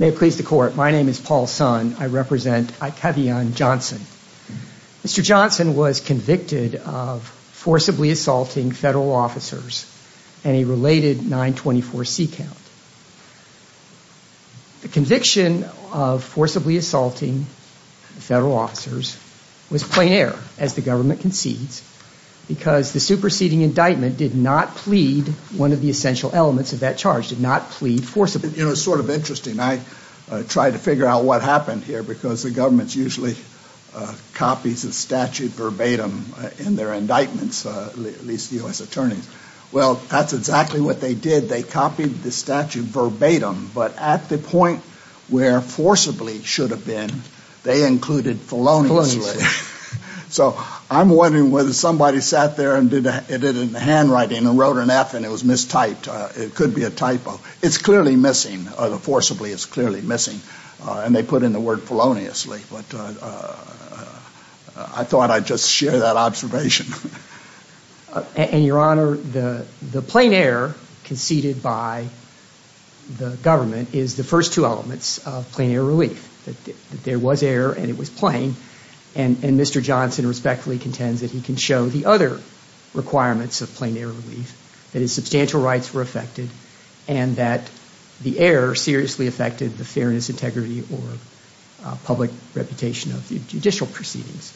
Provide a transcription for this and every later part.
May it please the court. My name is Paul Sun. I represent Ikeviaun Johnson. Mr. Johnson was convicted of forcibly assaulting federal officers and a related 924 C count. The conviction of forcibly assaulting federal officers was plein air as the government concedes because the superseding indictment did not plead one of the essential elements of that charge, did not plead forcibly. You know, it's sort of interesting. I try to figure out what happened here because the government's usually copies of statute verbatim in their indictments, at least the U.S. Attorneys. Well, that's exactly what they did. They copied the statute verbatim, but at the point where forcibly should have been, they included feloniously. So I'm wondering whether somebody sat there and did it in the handwriting and wrote an F and it was mistyped. It could be a typo. It's clearly missing. The forcibly is clearly missing and they put in the word feloniously, but I thought I'd just share that observation. And your honor, the plein air conceded by the government is the first two elements of plein air relief. That there was air and it was plein and Mr. Johnson respectfully contends that he can show the other requirements of plein air relief. That his substantial rights were affected and that the air seriously affected the fairness, integrity, or public reputation of the judicial proceedings.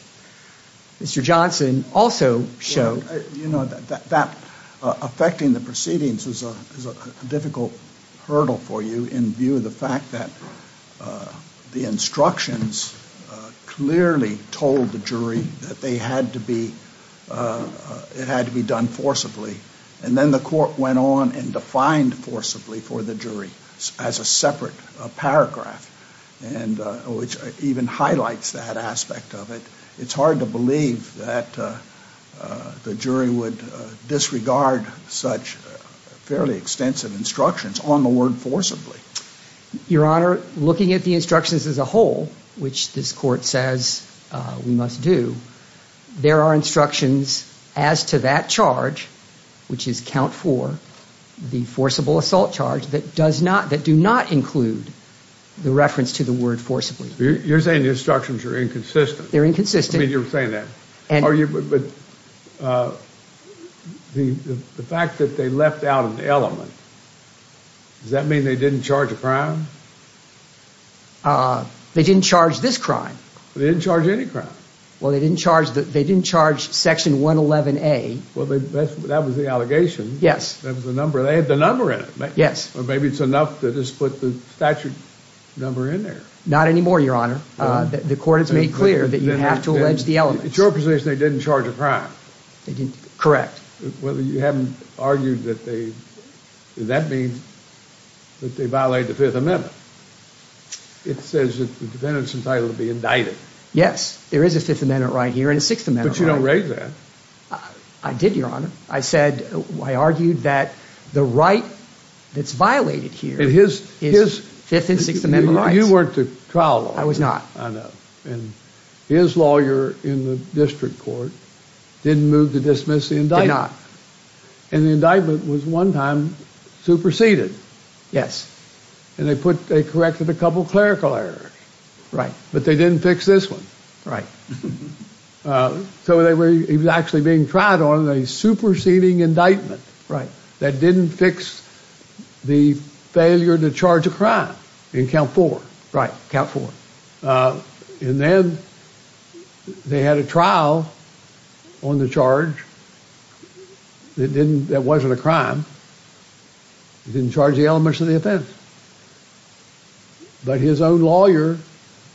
Mr. Johnson also showed... You know, that affecting the proceedings was a difficult hurdle for you in view of the fact that the instructions clearly told the jury that they had to be it had to be done forcibly and then the court went on and defined forcibly for the jury as a separate paragraph and which even highlights that aspect of it. It's hard to believe that the jury would disregard such fairly extensive instructions on the word forcibly. Your honor, looking at the instructions as a whole, which this court says we must do, there are instructions as to that charge, which is count four, the forcible assault charge, that does not, that do not include the reference to the word forcibly. You're saying the instructions are inconsistent. They're inconsistent. I mean, you're saying that. The fact that they left out an element, does that mean they didn't charge a crime? They didn't charge this crime. They didn't charge any crime. Well, they didn't charge that. They didn't charge section 111A. Well, that was the allegation. Yes. That was the number. They had the number in it. Yes. Well, maybe it's enough to just put the statute number in there. Not anymore, your honor. The court has made clear that you have to allege the element. It's your position they didn't charge a crime. Correct. Well, you haven't argued that they, that means that they violated the Fifth Amendment. It says that the defendant's entitled to be indicted. Yes, there is a Fifth Amendment right here and a Sixth Amendment right here. But you don't raise that. I did, your honor. I said, I argued that the right that's violated here is Fifth and Sixth Amendment rights. You weren't the trial lawyer. I was not. I know. And his lawyer in the district court didn't move to dismiss the indictment. Did not. And the indictment was one time superseded. Yes. And they put, they corrected a couple clerical errors. Right. But they didn't fix this one. Right. So they were, he was actually being tried on a superseding indictment. Right. That didn't fix the failure to charge a crime in count four. Right. Count four. And then they had a trial on the charge that didn't, that wasn't a crime. He didn't charge the elements of the offense. But his own lawyer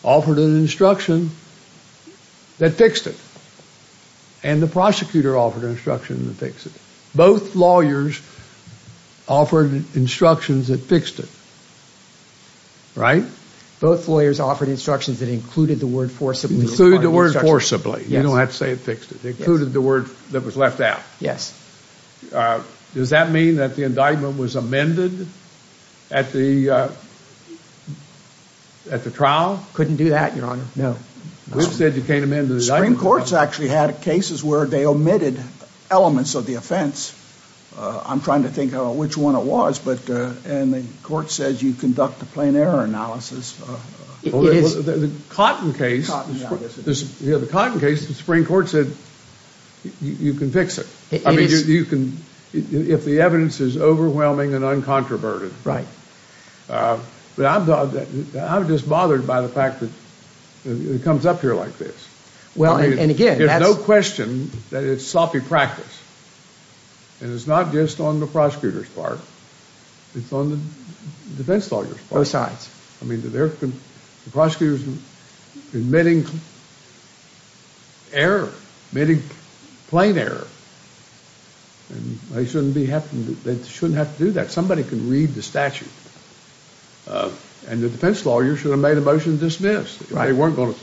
offered an instruction that fixed it. And the prosecutor offered instruction to fix it. Both lawyers offered instructions that fixed it. Right. Both lawyers offered instructions that included the word forcibly. Included the word forcibly. You don't have to say it fixed it. They included the word that was left out. Yes. Does that mean that the indictment was amended at the at the trial? Couldn't do that, Your Honor. No. We've said you can't amend the indictment. Supreme Court's actually had cases where they omitted elements of the offense. I'm trying to think which one it was, but, and the court says you conduct a plain error analysis. It is. The Cotton case. Yeah, the Cotton case, the Supreme Court said you can fix it. I mean, you can, if the evidence is overwhelming and uncontroverted. Right. But I'm just bothered by the fact that it comes up here like this. Well, and again. There's no question that it's sloppy practice. And it's not just on the prosecutor's part. It's on the defense lawyer's part. Both sides. I mean, the prosecutor's admitting error. Admitting plain error. And they shouldn't be having to, they shouldn't have to do that. Somebody can read the statute. And the defense lawyer should have made a motion to dismiss. Right. They weren't going to,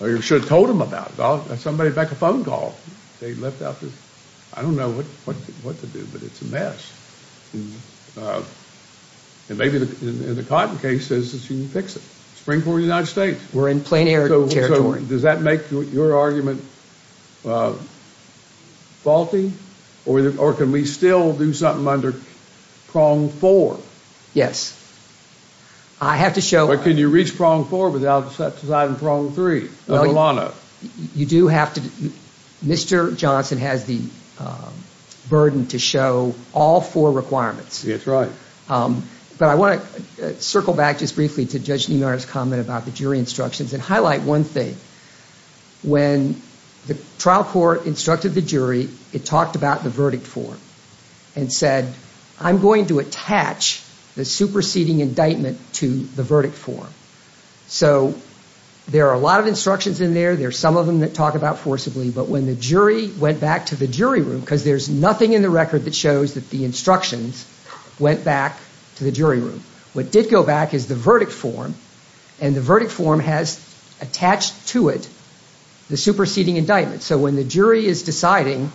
or you should have told them about it. Somebody back a phone call. They left out the, I don't know what to do, but it's a mess. And maybe the Cotton case says that you can fix it. Supreme Court of the United States. We're in plain error. Does that make your argument faulty? Or can we still do something under prong four? Yes. I have to show. But can you reach prong four without deciding prong three? You do have to, Mr. Johnson has the burden to show all four requirements. That's right. But I want to circle back just briefly to Judge Nemar's comment about the jury instructions and highlight one thing. When the trial court instructed the jury, it talked about the verdict form and said I'm going to attach the superseding indictment to the verdict form. So there are a lot of instructions in there. There's some of them that talk about forcibly. But when the jury went back to the jury room, because there's nothing in the record that shows that the instructions went back to the jury room, what did go back is the verdict form. And the verdict form has attached to it the superseding indictment. So when the jury is deciding,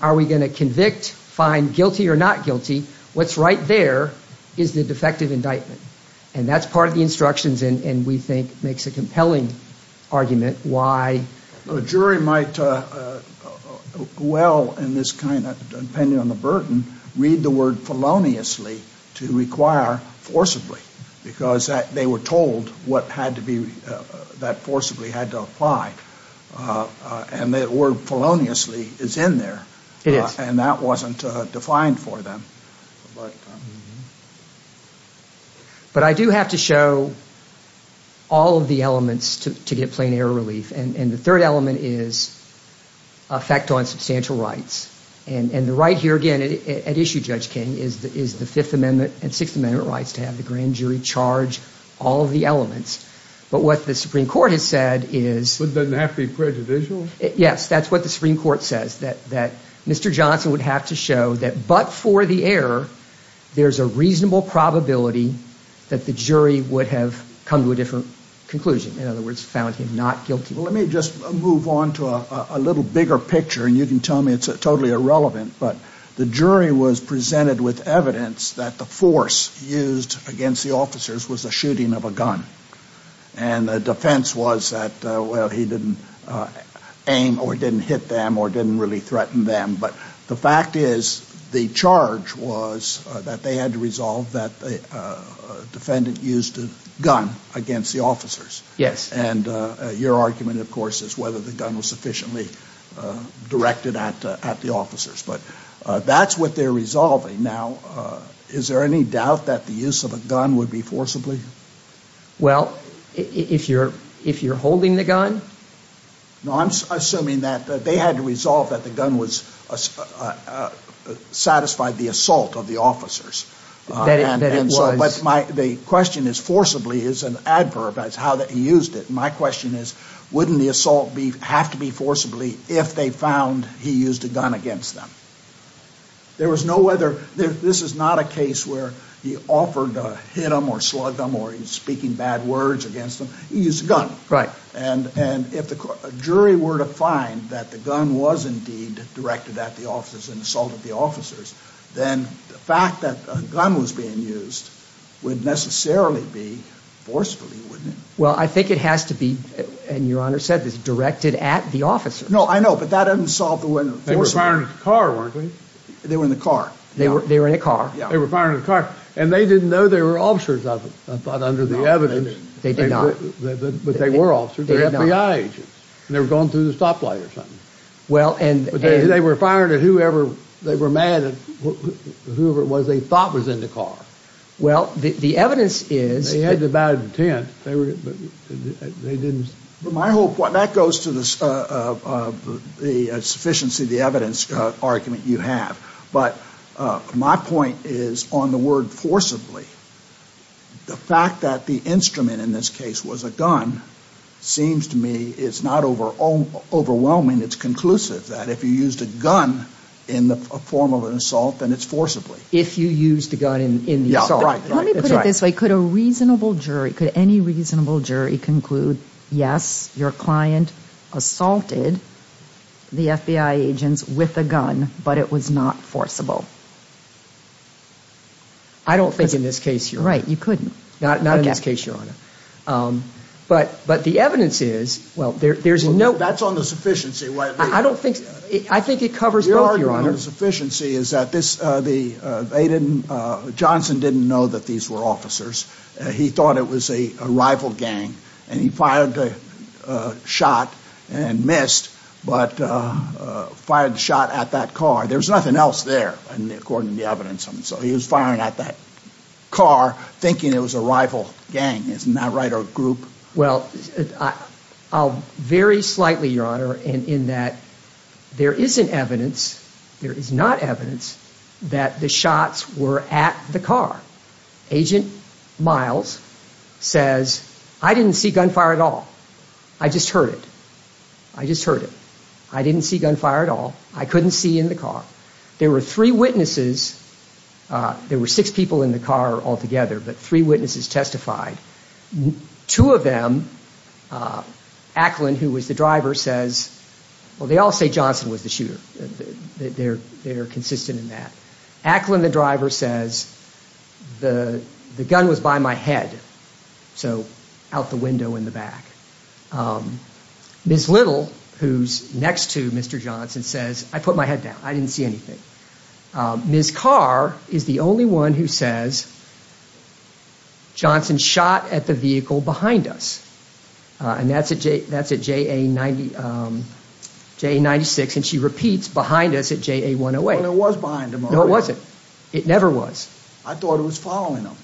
are we going to convict, find guilty or not guilty, what's right there is the defective indictment. And that's part of the instructions and we think makes a compelling argument why a jury might well, in this kind of, depending on the burden, read the word feloniously to require forcibly. Because they were told what had to be, that forcibly had to apply. And that word feloniously is in there. It is. And that wasn't defined for them. But I do have to show all of the elements to get plain error relief. And the third element is effect on substantial rights. And the right here, again, at issue, Judge King, is the Fifth Amendment and Sixth Amendment rights to have the grand jury charge all of the elements. But what the Supreme Court has said is... But doesn't have to be prejudicial? Yes, that's what the Supreme Court says. That Mr. Johnson would have to show that but for the error, there's a reasonable probability that the jury would have come to a different conclusion. In other words, found him not guilty. Well, let me just move on to a little bigger picture and you can tell me it's totally irrelevant. But the jury was presented with evidence that the force used against the officers was the shooting of a gun. And the defense was that, well, he didn't aim or didn't hit them or didn't really threaten them. But the fact is the charge was that they had to resolve that the defendant used a gun against the officers. Yes. And your argument, of course, is whether the gun was sufficiently directed at the officers. But that's what they're resolving. Now, is there any doubt that the use of a gun would be forcibly? Well, if you're holding the gun... No, I'm assuming that they had to resolve that the gun was satisfied the assault of the officers. But the question is forcibly is an adverb. That's how that he used it. My question is, wouldn't the assault have to be forcibly if they found he used a gun against them? There was no other... This is not a case where he offered to hit them or slug them or he's speaking bad words against them. He used a gun. Right. And if the jury were to find that the gun was indeed directed at the officers and assaulted the officers, then the fact that a gun was being used would necessarily be forcefully, wouldn't it? Well, I think it has to be, and your Honor said this, directed at the officers. No, I know, but that doesn't solve the... They were firing at the car, weren't they? They were in the car. They were in a car. Yeah. They were firing at the car. And they didn't know they were officers, I thought, under the evidence. They did not. But they were officers. They're FBI agents. And they were going through the stoplight or something. Well, and... But they were firing at whoever, they were mad at whoever it was they thought was in the car. Well, the evidence is... They had a bad intent. They were, they didn't... My whole point, that goes to the sufficiency of the evidence argument you have, but my point is on the word forcibly. The fact that the instrument in this case was a gun seems to me it's not overwhelming, it's conclusive, that if you used a gun in the form of an assault, then it's forcibly. If you used a gun in the assault. Let me put it this way. Could a reasonable jury, could any reasonable jury conclude, yes, your client assaulted the FBI agents with a gun, but it was not forcible? I don't think in this case, Your Honor. Right, you couldn't. Not in this case, Your Honor. But, but the evidence is, well, there's no... That's on the sufficiency. I don't think, I think it covers both, Your Honor. The sufficiency is that this, the, they didn't, Johnson didn't know that these were officers. He thought it was a rival gang, and he fired the shot and missed, but fired the shot at that car. There's nothing else there, according to the evidence. So he was firing at that car, thinking it was a rival gang, isn't that right, or group? Well, I'll vary slightly, Your Honor, in that there isn't evidence, there is not evidence, that the shots were at the car. Agent Miles says, I didn't see gunfire at all. I just heard it. I just heard it. I didn't see gunfire at all. I couldn't see in the car. There were three witnesses. There were six people in the car altogether, but three witnesses testified. Two of them, Acklin, who was the driver, says, well, they all say Johnson was the shooter. They're, they're consistent in that. Acklin, the driver, says, the, the gun was by my head, so out the window in the back. Ms. Little, who's next to Mr. Johnson, says, I put my head down. I didn't see anything. Ms. Carr is the only one who says, Johnson shot at the vehicle behind us, and that's at J, that's at JA 90, JA 96, and she repeats behind us at JA 108. Well, it was behind them. No, it wasn't. It never was. I thought it was following them.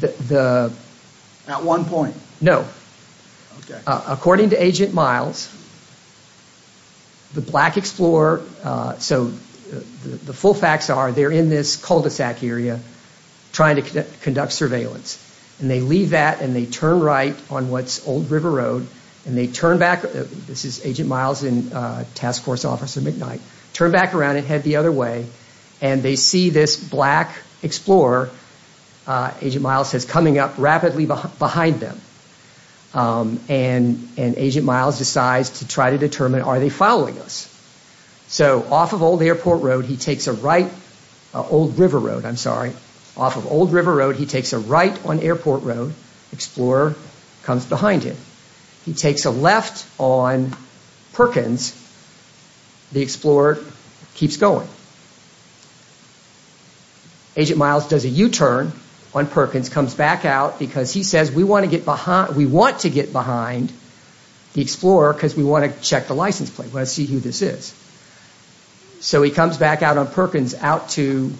The, the... At one point? No. According to Agent Miles, the Black Explorer, so the full facts are, they're in this cul-de-sac area trying to conduct surveillance, and they leave that, and they turn right on what's Old River Road, and they turn back. This is Agent Miles and Task Force Officer McKnight. Turn back around and head the other way, and they see this Black Explorer, Agent Miles, is coming up rapidly behind them, and, and Agent Miles decides to try to determine, are they following us? So, off of Old Airport Road, he takes a right, Old River Road, I'm sorry, off of Old River Road, he takes a right on Airport Road, Explorer comes behind him. He takes a left on Perkins. The Explorer keeps going. Agent Miles does a U-turn on Perkins, comes back out, because he says, we want to get behind, we want to get behind the Explorer, because we want to check the license plate. We want to see who this is. So, he comes back out on Perkins, out to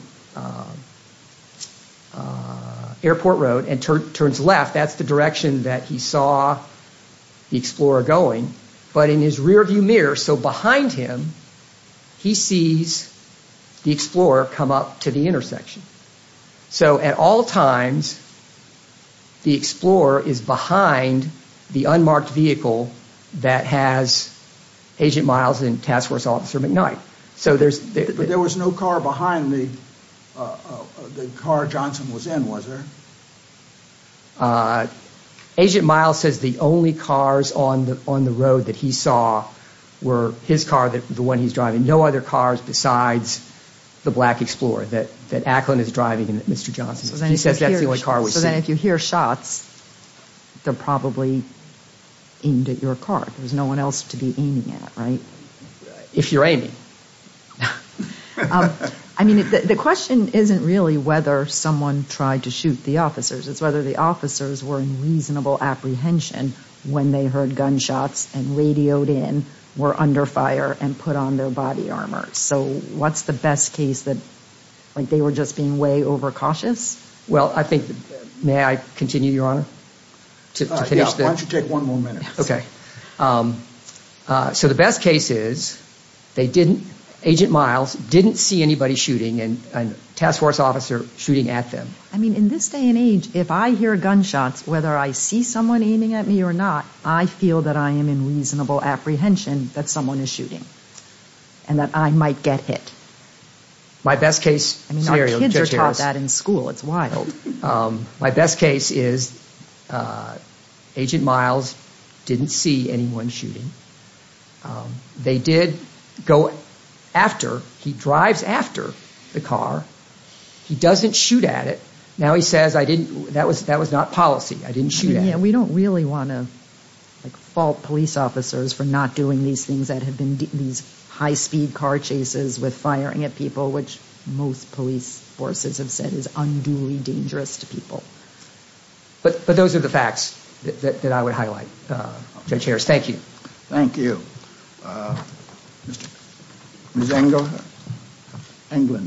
Airport Road, and turns left. That's the direction that he saw the Explorer going, but in his rearview mirror, so behind him, he sees the Explorer come up to the intersection. So, at all times, the Explorer is behind the unmarked vehicle that has Agent Miles and Task Force Officer McKnight. So, there's... But there was no car behind the car Johnson was in, was there? Agent Miles says the only cars on the, on the road that he saw were his car, the one he's driving. No other cars besides the Black Explorer that, that Ackland is driving, and that Mr. Johnson's. He says that's the only car we see. So, then if you hear shots, they're probably aimed at your car. There's no one else to be aiming at, right? If you're aiming. I mean, the question isn't really whether someone tried to shoot the officers. It's whether the officers were in reasonable apprehension when they heard gunshots and radioed in, were under fire, and put on their body armor. So, what's the best case that, like, they were just being way over cautious? Well, I think, may I continue, Your Honor? Why don't you take one more minute? Okay. So, the best case is, they didn't, Agent Miles, didn't see anybody shooting and a Task Force Officer shooting at them. I mean, in this day and age, if I hear gunshots, whether I see someone aiming at me or not, I feel that I am in reasonable apprehension that someone is shooting and that I might get hit. My best case scenario. I mean, our kids are taught that in school. It's wild. My best case is, Agent Miles didn't see anyone shooting. They did go after, he drives after the car. He doesn't shoot at it. Now, he says, I didn't, that was, that was not policy. I didn't shoot at it. Yeah, we don't really want to, like, fault police officers for not doing these things that have been, these high-speed car chases with firing at people, which most police forces have said is unduly dangerous to people. But, but those are the facts that I would highlight. Judge Harris, thank you. Thank you. Ms. Engel? Engel.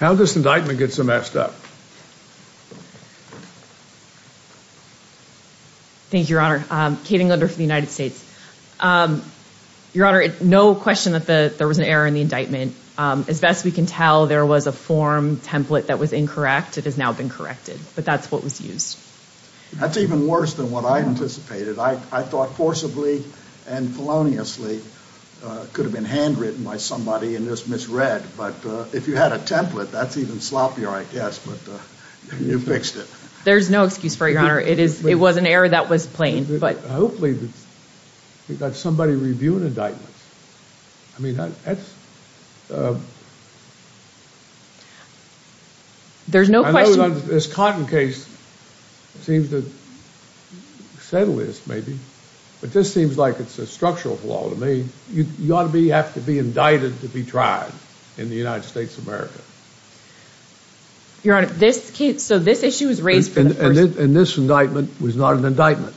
How does indictment get amassed up? Thank you, Your Honor. Kate Engel for the United States. Your Honor, no question that there was an error in the indictment. As best we can tell, there was a form template that was incorrect. It has now been corrected, but that's what was used. That's even worse than what I anticipated. I thought forcibly and feloniously could have been handwritten by somebody and just misread, but if you had a template, that's even sloppier, I guess, but you fixed it. There's no excuse for it, Your Honor. It is, it was an error that was plain, but hopefully we've got somebody reviewing indictments. I mean, that's, There's no question. I know this Cotton case seems to settle this, maybe, but this seems like it's a structural flaw to me. You ought to be, have to be indicted to be tried in the United States of America. Your Honor, this case, so this issue was raised for the first time. And this indictment was not an indictment.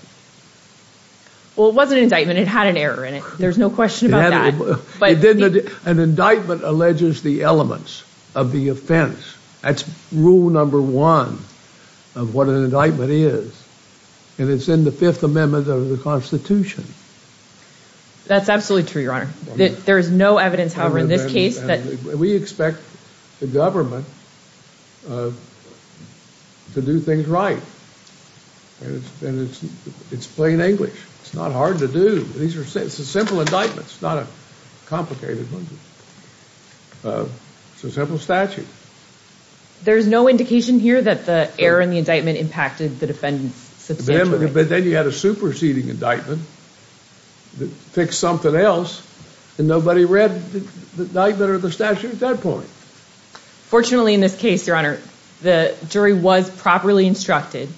Well, it was an indictment. It had an error in it. There's no question about that. An indictment alleges the elements of the offense. That's rule number one of what an indictment is. And it's in the Fifth Amendment of the Constitution. That's absolutely true, Your Honor. There is no evidence, however, in this case that... We expect the government to do things right. And it's plain English. It's not hard to do. These are simple indictments, not a complicated one. It's a simple statute. There's no indication here that the error in the indictment impacted the defendants substantially. But then you had a superseding indictment that fixed something else, and nobody read the indictment or the statute at that point. Fortunately, in this case, Your Honor, the jury was properly instructed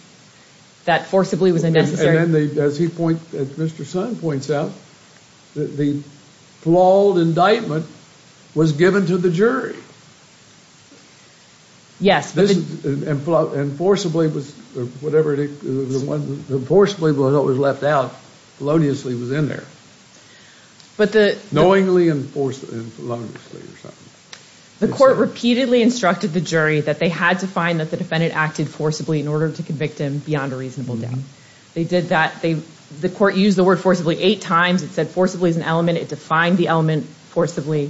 that forcibly was a necessary... And then, as he points, as Mr. Sun points out, the flawed indictment was given to the jury. Yes. And forcibly was, whatever, the one forcibly was left out feloniously was in there. But the... Knowingly and forcibly. The court repeatedly instructed the jury that they had to find that the defendant acted forcibly in order to convict him beyond a reasonable doubt. They did that. They... The court used the word forcibly eight times. It said forcibly is an element. It defined the element forcibly.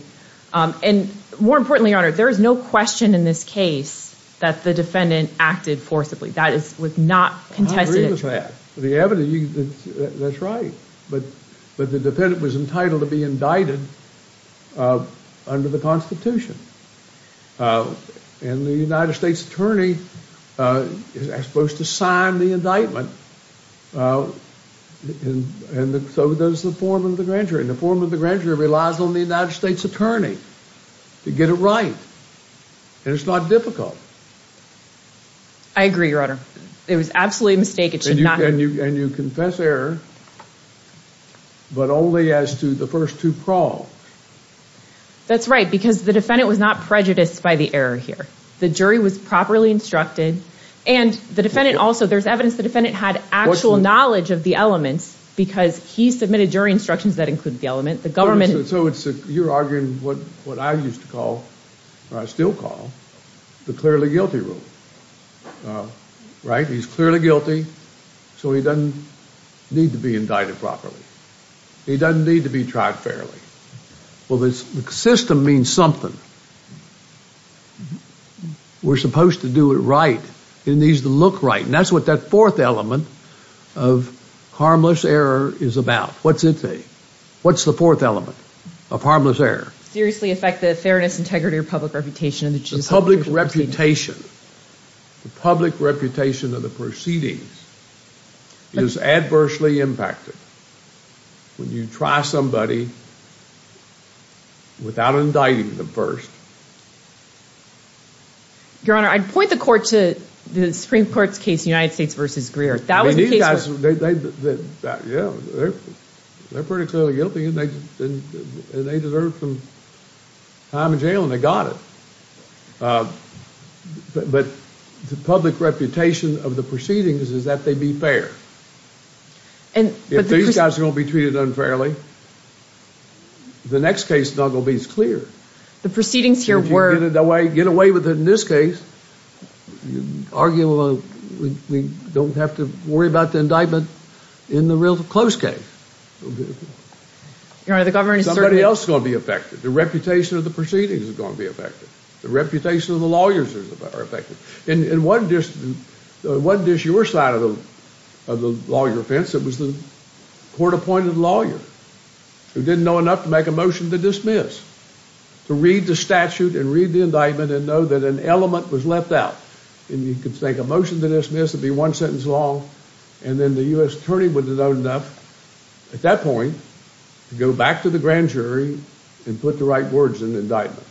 And, more importantly, Your Honor, there is no question in this case that the defendant acted forcibly. That is, was not contested. I agree with that. The evidence... That's right. But the defendant was entitled to be indicted under the Constitution. And the United States Attorney is supposed to sign the indictment. And so does the form of the grand jury. And the form of the grand jury relies on the United States Attorney to get it right. And it's not difficult. I agree, Your Honor. It was absolutely a mistake. It should not... And you confess error, but only as to the first two probes. That's right, because the defendant was not prejudiced by the error here. The jury was properly instructed. And the defendant also... There's evidence the defendant had actual knowledge of the elements because he submitted jury instructions that include the element. The government... So it's... You're arguing what I used to call, or I still call, the clearly guilty rule. Right? He's clearly guilty, so he doesn't need to be indicted properly. He doesn't need to be tried fairly. Well, the system means something. We're supposed to do it right. It needs to look right. And that's what that fourth element of harmless error is about. What's it say? What's the fourth element of harmless error? Seriously affect the fairness, integrity, or public reputation of the judicial procedure. The public reputation of the proceedings is adversely impacted when you try somebody without indicting them first. Your Honor, I'd point the court to the Supreme Court's case, United States v. Greer. That was the case... I mean, these guys, they're pretty clearly guilty, and they deserve some time in jail, and they got it. But the public reputation of the proceedings is that they be fair. If these guys are going to be treated unfairly, the next case is not going to be as clear. The proceedings here were... If you get away with it in this case, you're arguing we don't have to worry about the indictment in the real close case. Your Honor, the government is certainly... It's going to be affected. The reputation of the proceedings is going to be affected. The reputation of the lawyers are affected. It wasn't just your side of the lawyer offense, it was the court-appointed lawyer who didn't know enough to make a motion to dismiss, to read the statute and read the indictment and know that an element was left out. And you could make a motion to dismiss, it'd be one sentence long, and then the U.S. attorney wouldn't have known enough at that point to go back to the grand jury and put the right words in the indictment,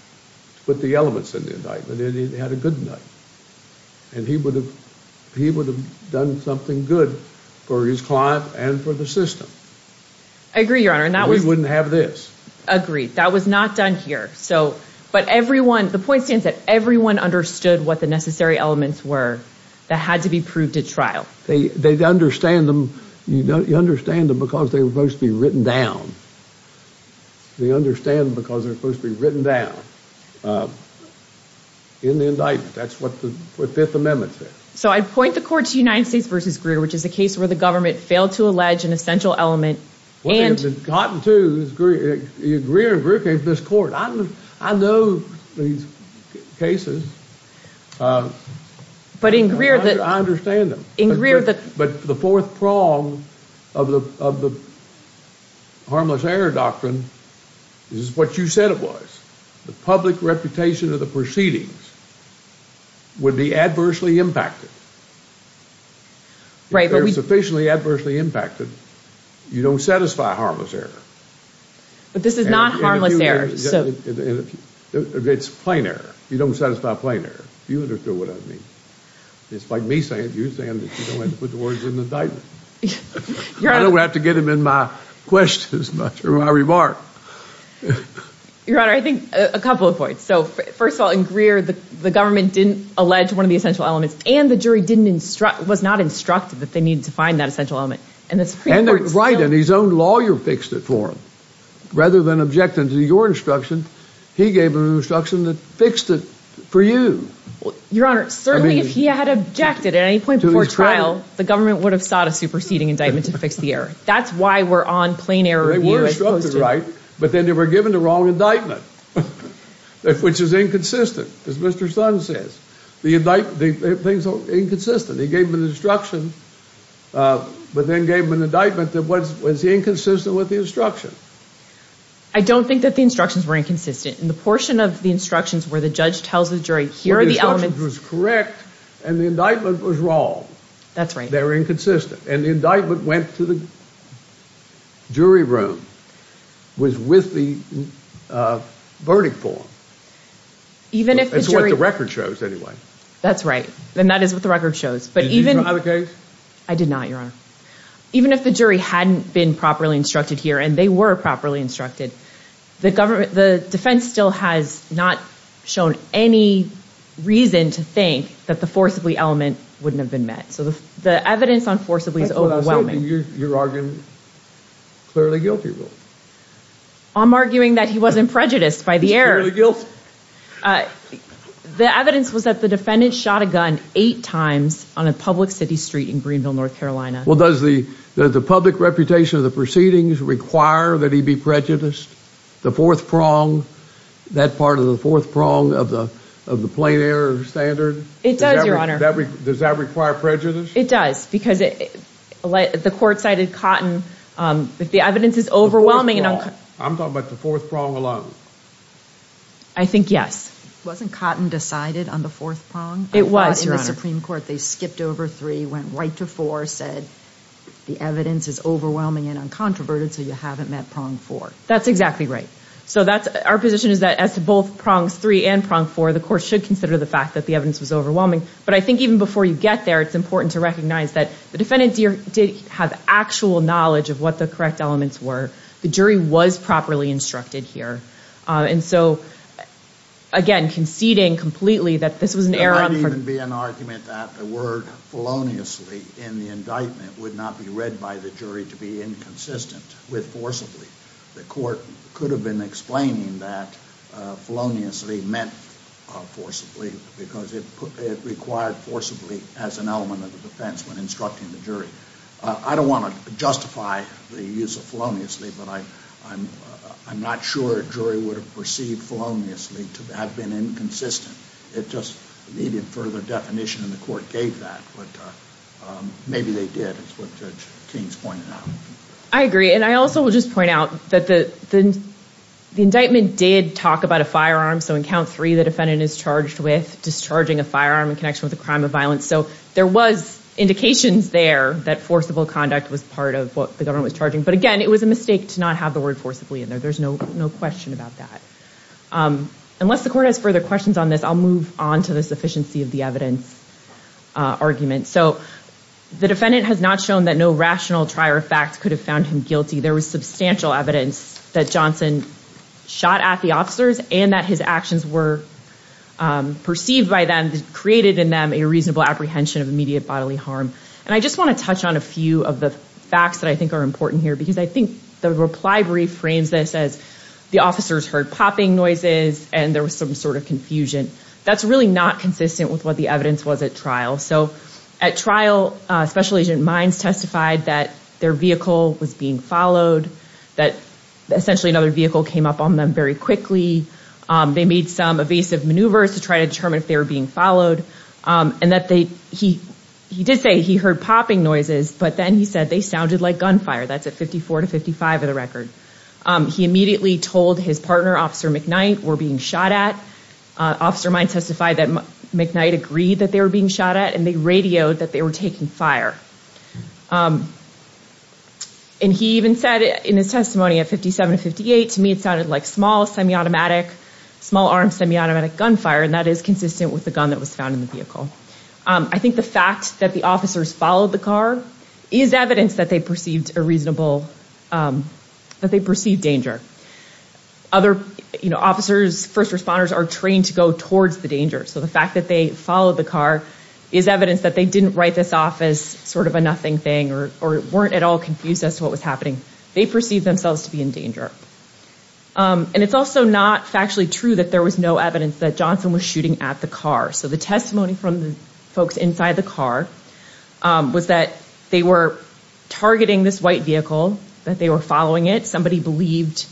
put the elements in the indictment, and it had a good night. And he would have done something good for his client and for the system. I agree, Your Honor, and that was... We wouldn't have this. Agreed. That was not done here. So, but everyone, the point stands that everyone understood what the necessary elements were that had to be proved at trial. They understand them because they were supposed to be written down. They understand them because they were supposed to be written down in the indictment. That's what the Fifth Amendment says. So I'd point the court to United States v. Greer, which is a case where the government failed to allege an essential element and... Well, they had gotten to Greer, and Greer came to this court. I know these cases. But in Greer... I understand them. In Greer, the... But the fourth prong of the harmless error doctrine is what you said it was. The public reputation of the proceedings would be adversely impacted. Right, but we... If they're sufficiently adversely impacted, you don't satisfy harmless error. But this is not harmless error, so... It's plain error. You don't satisfy plain error. Do you understand what I mean? It's like me saying it, you saying it, you don't have to put the words in the indictment. I don't have to get them in my questions, not through my remark. Your Honor, I think a couple of points. So, first of all, in Greer, the government didn't allege one of the essential elements, and the jury was not instructed that they needed to find that essential element. And the Supreme Court... Right, and his own lawyer fixed it for him. Rather than objecting to your instruction, he gave an instruction that fixed it for you. Your Honor, certainly if he had objected at any point before trial, the government would have sought a superseding indictment to fix the error. That's why we're on plain error here as opposed to... They were instructed, right? But then they were given the wrong indictment. Which is inconsistent, as Mr. Sun says. The things are inconsistent. He gave an instruction, but then gave an indictment that was inconsistent with the instruction. I don't think that the instructions were inconsistent. In the portion of the instructions where the judge tells the jury, here are the elements... Where the instruction was correct, and the indictment was wrong. That's right. They were inconsistent. And the indictment went to the jury room, was with the verdict form. Even if the jury... That's what the record shows, anyway. That's right. And that is what the record shows. But even... Did you try the case? I did not, Your Honor. Even if the jury hadn't been properly instructed here, and they were properly instructed, the defense still has not shown any reason to think that the forcibly element wouldn't have been met. So the evidence on forcibly is overwhelming. You're arguing clearly guilty. I'm arguing that he wasn't prejudiced by the error. The evidence was that the defendant shot a gun eight times on a public city street in Greenville, North Carolina. Well, does the public reputation of the proceedings require that he be prejudiced? The fourth prong, that part of the fourth prong of the plain error standard? It does, Your Honor. Does that require prejudice? It does, because the court cited Cotton. The evidence is overwhelming. I'm talking about the fourth prong alone. I think yes. Wasn't Cotton decided on the fourth prong? It was, Your Honor. The Supreme Court, they skipped over three, went right to four, said the evidence is overwhelming and uncontroverted, so you haven't met prong four. That's exactly right. So our position is that as to both prongs three and prong four, the court should consider the fact that the evidence was overwhelming. But I think even before you get there, it's important to recognize that the defendant did have actual knowledge of what the correct elements were. The jury was properly instructed here. And so, again, conceding completely that this was an error. There couldn't even be an argument that the word feloniously in the indictment would not be read by the jury to be inconsistent with forcibly. The court could have been explaining that feloniously meant forcibly because it required forcibly as an element of the defense when instructing the jury. I don't want to justify the use of feloniously, but I'm not sure a jury would have perceived feloniously to have been inconsistent. It just needed further definition, and the court gave that. But maybe they did. That's what Judge Kings pointed out. I agree. And I also will just point out that the indictment did talk about a firearm. So in count three, the defendant is charged with discharging a firearm in connection with a crime of violence. So there was indications there that forcible conduct was part of what the government was charging. But, again, it was a mistake to not have the word forcibly in there. There's no question about that. Unless the court has further questions on this, I'll move on to the sufficiency of the evidence argument. So the defendant has not shown that no rational trier of facts could have found him guilty. There was substantial evidence that Johnson shot at the officers and that his actions were perceived by them, created in them a reasonable apprehension of immediate bodily harm. And I just want to touch on a few of the facts that I think are important here, because I think the reply brief frames this as the officers heard popping noises and there was some sort of confusion. That's really not consistent with what the evidence was at trial. So at trial, Special Agent Mines testified that their vehicle was being followed, that essentially another vehicle came up on them very quickly. They made some evasive maneuvers to try to determine if they were being followed, and that he did say he heard popping noises, but then he said they sounded like gunfire. That's at 54 to 55 of the record. He immediately told his partner, Officer McKnight, we're being shot at. Officer Mines testified that McKnight agreed that they were being shot at, and they radioed that they were taking fire. And he even said in his testimony at 57 to 58, to me it sounded like small, semi-automatic, small-arm, semi-automatic gunfire, and that is consistent with the gun that was found in the vehicle. I think the fact that the officers followed the car is evidence that they perceived danger. Other officers, first responders, are trained to go towards the danger. So the fact that they followed the car is evidence that they didn't write this off as sort of a nothing thing or weren't at all confused as to what was happening. They perceived themselves to be in danger. And it's also not factually true that there was no evidence that Johnson was shooting at the car. So the testimony from the folks inside the car was that they were targeting this white vehicle, that they were following it. Somebody believed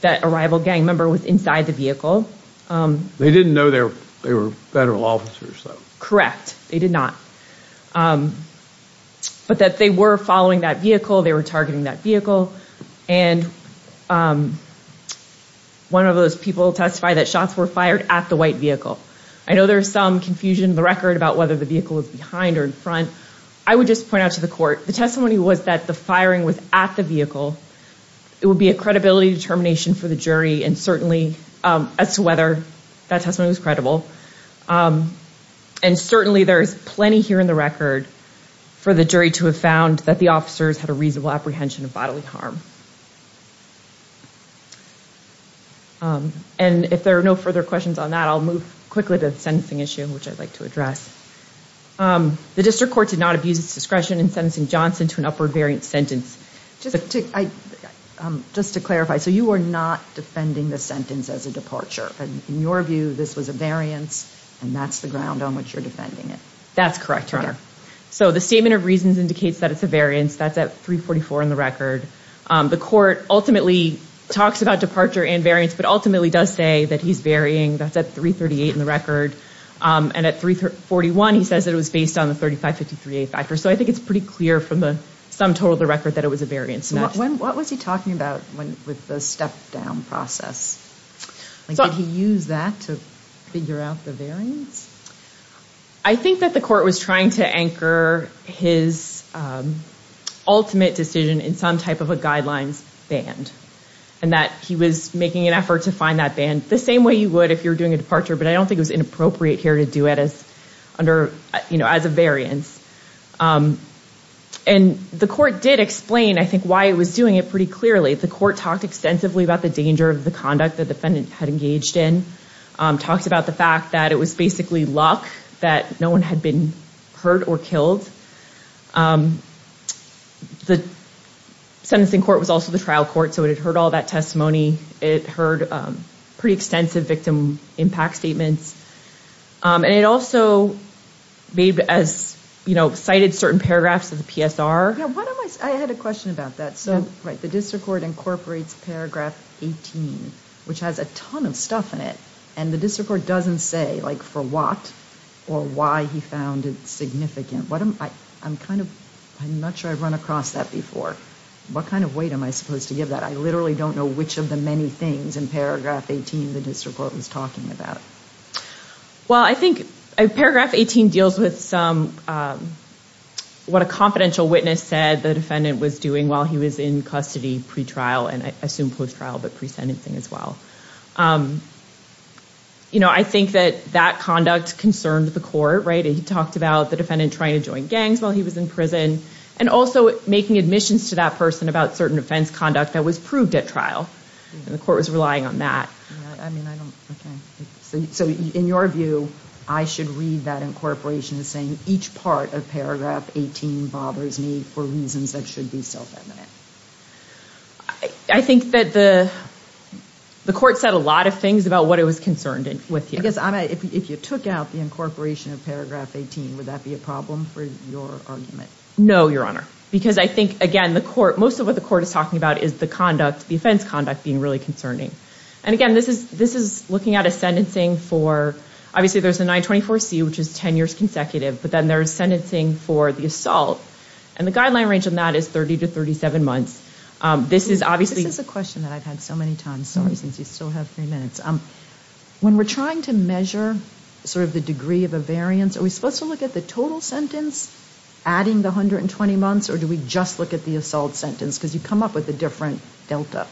that a rival gang member was inside the vehicle. They didn't know they were federal officers, though. Correct. They did not. But that they were following that vehicle, they were targeting that vehicle, and one of those people testified that shots were fired at the white vehicle. I know there is some confusion in the record about whether the vehicle was behind or in front. I would just point out to the court, the testimony was that the firing was at the vehicle. It would be a credibility determination for the jury as to whether that testimony was credible. And certainly there is plenty here in the record for the jury to have found that the officers had a reasonable apprehension of bodily harm. And if there are no further questions on that, I'll move quickly to the sentencing issue, which I'd like to address. The district court did not abuse its discretion in sentencing Johnson to an upward variant sentence. Just to clarify, so you are not defending the sentence as a departure. In your view, this was a variance, and that's the ground on which you're defending it. That's correct, Your Honor. So the statement of reasons indicates that it's a variance. That's at 344 in the record. The court ultimately talks about departure and variance, but ultimately does say that he's varying. That's at 338 in the record. And at 341, he says that it was based on the 3553A factor. So I think it's pretty clear from the sum total of the record that it was a variance. What was he talking about with the step-down process? Did he use that to figure out the variance? I think that the court was trying to anchor his ultimate decision in some type of a guidelines band, and that he was making an effort to find that band the same way you would if you were doing a departure, but I don't think it was inappropriate here to do it as a variance. And the court did explain, I think, why it was doing it pretty clearly. The court talked extensively about the danger of the conduct the defendant had engaged in, talked about the fact that it was basically luck that no one had been hurt or killed. The sentencing court was also the trial court, so it had heard all that testimony. It heard pretty extensive victim impact statements. And it also cited certain paragraphs of the PSR. I had a question about that. The district court incorporates paragraph 18, which has a ton of stuff in it, and the district court doesn't say for what or why he found it significant. I'm not sure I've run across that before. What kind of weight am I supposed to give that? I literally don't know which of the many things in paragraph 18 the district court was talking about. Well, I think paragraph 18 deals with what a confidential witness said the defendant was doing while he was in custody pre-trial, and I assume post-trial, but pre-sentencing as well. I think that that conduct concerned the court. He talked about the defendant trying to join gangs while he was in prison, and also making admissions to that person about certain offense conduct that was proved at trial. The court was relying on that. So in your view, I should read that incorporation as saying each part of paragraph 18 bothers me for reasons that should be self-evident. I think that the court said a lot of things about what it was concerned with here. If you took out the incorporation of paragraph 18, would that be a problem for your argument? No, Your Honor. Because I think, again, most of what the court is talking about is the offense conduct being really concerning. And again, this is looking at a sentencing for— obviously there's a 924C, which is 10 years consecutive, but then there's sentencing for the assault, and the guideline range on that is 30 to 37 months. This is obviously— This is a question that I've had so many times, sorry, since you still have three minutes. When we're trying to measure sort of the degree of a variance, are we supposed to look at the total sentence adding the 120 months, or do we just look at the assault sentence? Because you come up with a different delta.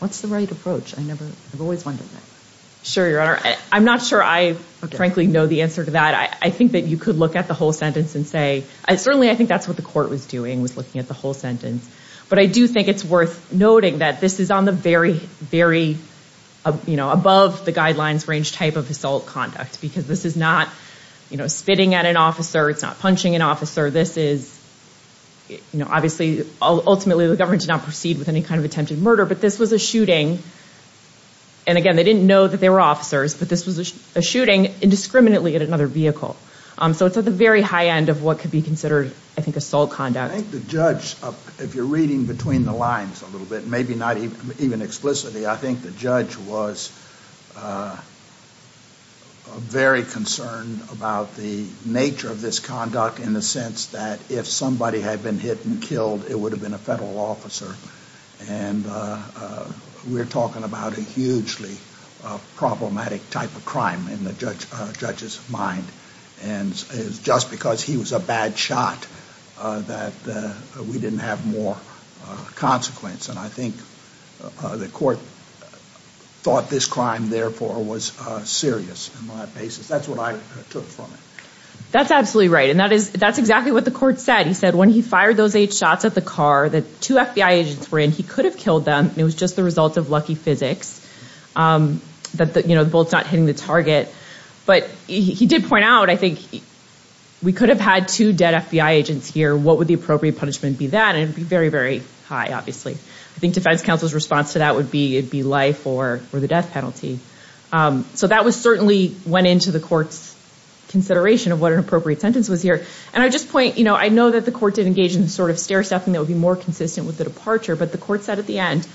What's the right approach? I never—I've always wondered that. Sure, Your Honor. I'm not sure I frankly know the answer to that. I think that you could look at the whole sentence and say— certainly I think that's what the court was doing, was looking at the whole sentence. But I do think it's worth noting that this is on the very, very above the guidelines range type of assault conduct because this is not, you know, spitting at an officer. It's not punching an officer. This is, you know, obviously ultimately the government did not proceed with any kind of attempted murder, but this was a shooting. And again, they didn't know that they were officers, but this was a shooting indiscriminately at another vehicle. So it's at the very high end of what could be considered, I think, assault conduct. I think the judge, if you're reading between the lines a little bit, maybe not even explicitly, I think the judge was very concerned about the nature of this conduct in the sense that if somebody had been hit and killed, it would have been a federal officer. And we're talking about a hugely problematic type of crime in the judge's mind. And it was just because he was a bad shot that we didn't have more consequence. And I think the court thought this crime, therefore, was serious on that basis. That's what I took from it. That's absolutely right, and that's exactly what the court said. He said when he fired those eight shots at the car that two FBI agents were in, he could have killed them. It was just the result of lucky physics that, you know, the bullet's not hitting the target. But he did point out, I think, we could have had two dead FBI agents here. What would the appropriate punishment be then? And it would be very, very high, obviously. I think defense counsel's response to that would be it would be life or the death penalty. So that certainly went into the court's consideration of what an appropriate sentence was here. And I just point, you know, I know that the court did engage in sort of stair-stepping that would be more consistent with the departure, but the court said at the end,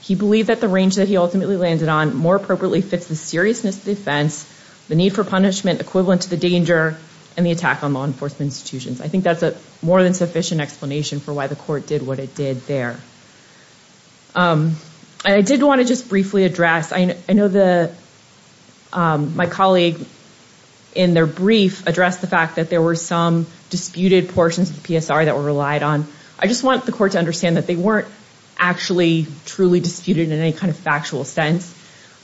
he believed that the range that he ultimately landed on more appropriately fits the seriousness of the offense, the need for punishment equivalent to the danger, and the attack on law enforcement institutions. I think that's a more than sufficient explanation for why the court did what it did there. I did want to just briefly address, I know my colleague in their brief addressed the fact that there were some disputed portions of the PSR that were relied on. I just want the court to understand that they weren't actually truly disputed in any kind of factual sense.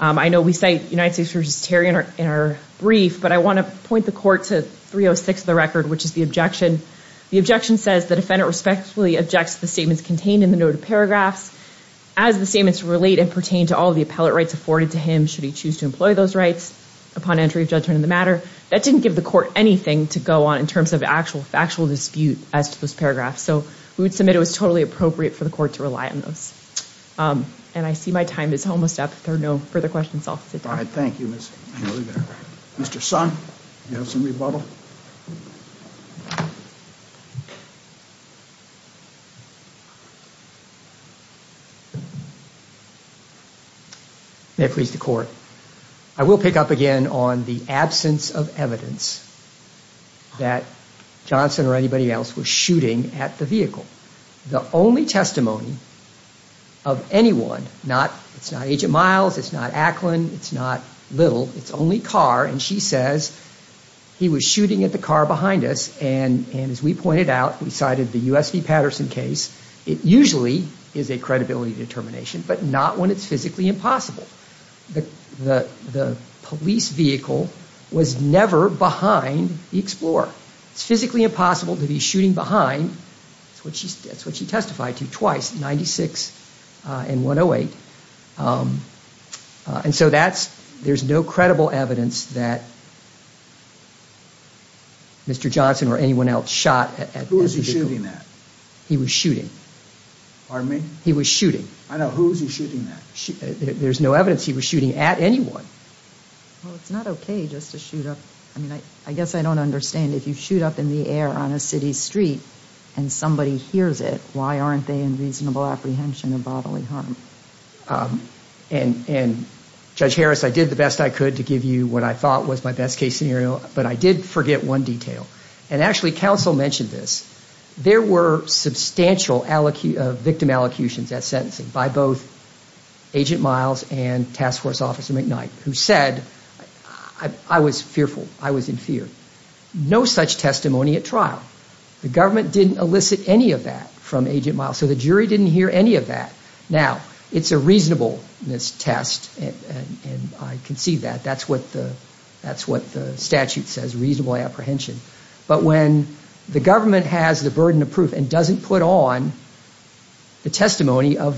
I know we cite United States v. Terry in our brief, but I want to point the court to 306 of the record, which is the objection. The objection says the defendant respectfully objects to the statements contained in the noted paragraphs. As the statements relate and pertain to all of the appellate rights afforded to him, should he choose to employ those rights upon entry of judgment in the matter, that didn't give the court anything to go on in terms of actual dispute as to those paragraphs. So we would submit it was totally appropriate for the court to rely on those. And I see my time is almost up. If there are no further questions, I'll sit down. All right. Thank you. Mr. Son, do you have something to bubble? May it please the court. I will pick up again on the absence of evidence that Johnson or anybody else was shooting at the vehicle. The only testimony of anyone, it's not Agent Miles, it's not Acklin, it's not Little, it's only Carr. And she says he was shooting at the car behind us. And as we pointed out, we cited the U.S. v. Patterson case. It usually is a credibility determination, but not when it's physically impossible. The police vehicle was never behind the Explorer. It's physically impossible to be shooting behind, that's what she testified to twice, 96 and 108. And so there's no credible evidence that Mr. Johnson or anyone else shot at the vehicle. Who was he shooting at? He was shooting. Pardon me? He was shooting. I know. Who was he shooting at? There's no evidence he was shooting at anyone. Well, it's not okay just to shoot up. I mean, I guess I don't understand if you shoot up in the air on a city street and somebody hears it, why aren't they in reasonable apprehension of bodily harm? And, Judge Harris, I did the best I could to give you what I thought was my best case scenario, but I did forget one detail. And actually, counsel mentioned this. There were substantial victim allocutions at sentencing by both Agent Miles and Task Force Officer McKnight, who said, I was fearful. I was in fear. No such testimony at trial. The government didn't elicit any of that from Agent Miles, so the jury didn't hear any of that. Now, it's a reasonableness test, and I can see that. That's what the statute says, reasonable apprehension. But when the government has the burden of proof and doesn't put on the testimony of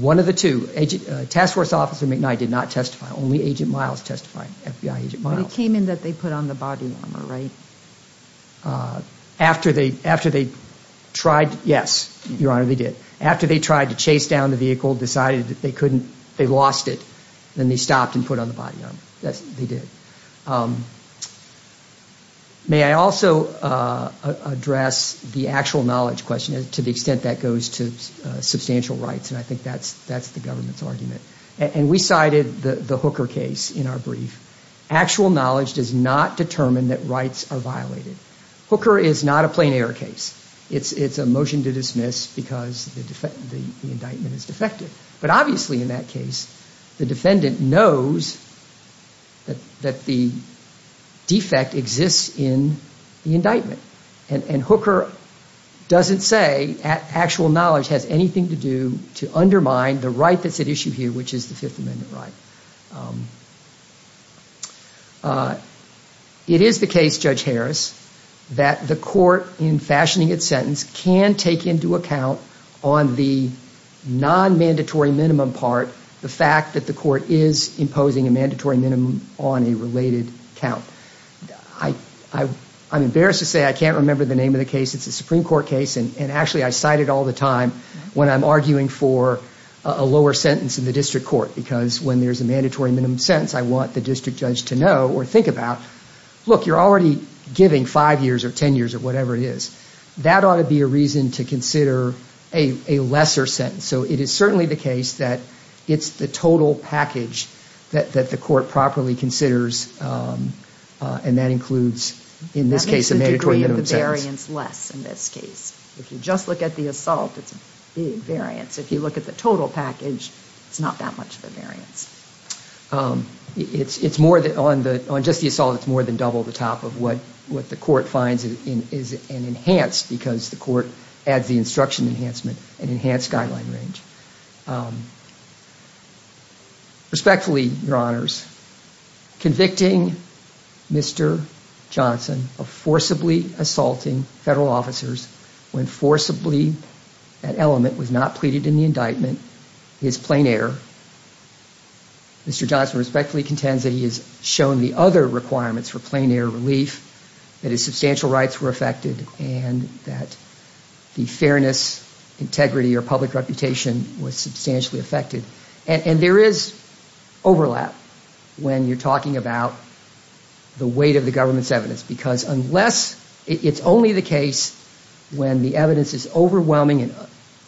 one of the two, Task Force Officer McKnight did not testify. Only Agent Miles testified, FBI Agent Miles. But it came in that they put on the body armor, right? After they tried, yes, Your Honor, they did. After they tried to chase down the vehicle, decided that they couldn't, they lost it, then they stopped and put on the body armor. Yes, they did. May I also address the actual knowledge question to the extent that goes to substantial rights, and I think that's the government's argument. And we cited the Hooker case in our brief. Actual knowledge does not determine that rights are violated. Hooker is not a plain error case. It's a motion to dismiss because the indictment is defective. But obviously in that case, the defendant knows that the defect exists in the indictment. And Hooker doesn't say actual knowledge has anything to do to undermine the right that's at issue here, which is the Fifth Amendment right. It is the case, Judge Harris, that the court, in fashioning its sentence, can take into account on the non-mandatory minimum part the fact that the court is imposing a mandatory minimum on a related count. I'm embarrassed to say I can't remember the name of the case. It's a Supreme Court case, and actually I cite it all the time when I'm arguing for a lower sentence in the district court because when there's a mandatory minimum sentence, I want the district judge to know or think about, look, you're already giving five years or ten years or whatever it is. That ought to be a reason to consider a lesser sentence. So it is certainly the case that it's the total package that the court properly considers, and that includes in this case a mandatory minimum sentence. That makes the degree of the variance less in this case. If you just look at the assault, it's a big variance. If you look at the total package, it's not that much of a variance. On just the assault, it's more than double the top of what the court finds is an enhanced, because the court adds the instruction enhancement, an enhanced guideline range. Respectfully, Your Honors, convicting Mr. Johnson of forcibly assaulting federal officers when forcibly that element was not pleaded in the indictment, his plein air, Mr. Johnson respectfully contends that he has shown the other requirements for plein air relief, that his substantial rights were affected, and that the fairness, integrity, or public reputation was substantially affected. And there is overlap when you're talking about the weight of the government's evidence, because unless it's only the case when the evidence is overwhelming and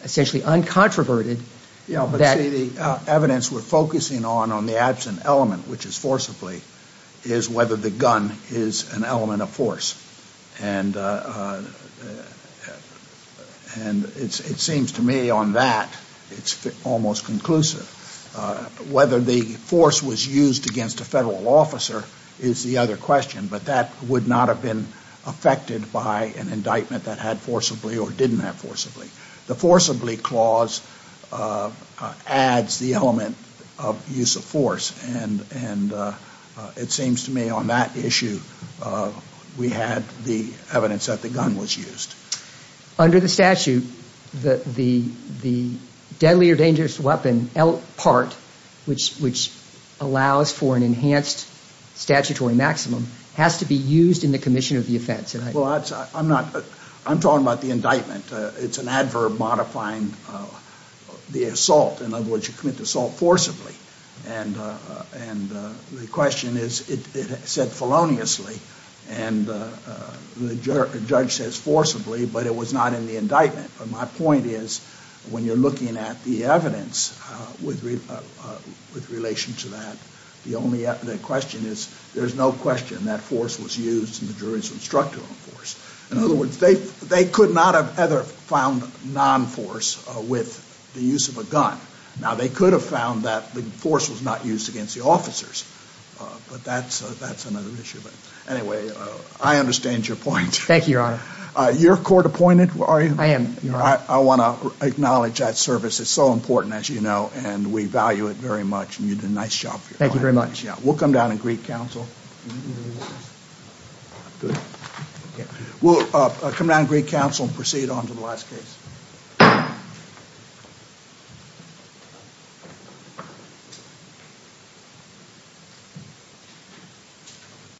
essentially uncontroverted that... Yeah, but see, the evidence we're focusing on on the absent element, which is forcibly, is whether the gun is an element of force. And it seems to me on that it's almost conclusive. Whether the force was used against a federal officer is the other question, but that would not have been affected by an indictment that had forcibly or didn't have forcibly. The forcibly clause adds the element of use of force, and it seems to me on that issue we had the evidence that the gun was used. Under the statute, the deadly or dangerous weapon part, which allows for an enhanced statutory maximum, has to be used in the commission of the offense. Well, I'm talking about the indictment. It's an adverb modifying the assault, in other words, you commit the assault forcibly. And the question is it said feloniously, and the judge says forcibly, but it was not in the indictment. My point is when you're looking at the evidence with relation to that, the only question is there's no question that force was used and the jury was instructed on force. In other words, they could not have ever found non-force with the use of a gun. Now, they could have found that the force was not used against the officers, but that's another issue. But anyway, I understand your point. Thank you, Your Honor. You're court-appointed, are you? I am, Your Honor. I want to acknowledge that service. It's so important, as you know, and we value it very much, and you did a nice job. Thank you very much. We'll come down and greet counsel. We'll come down and greet counsel and proceed on to the last case.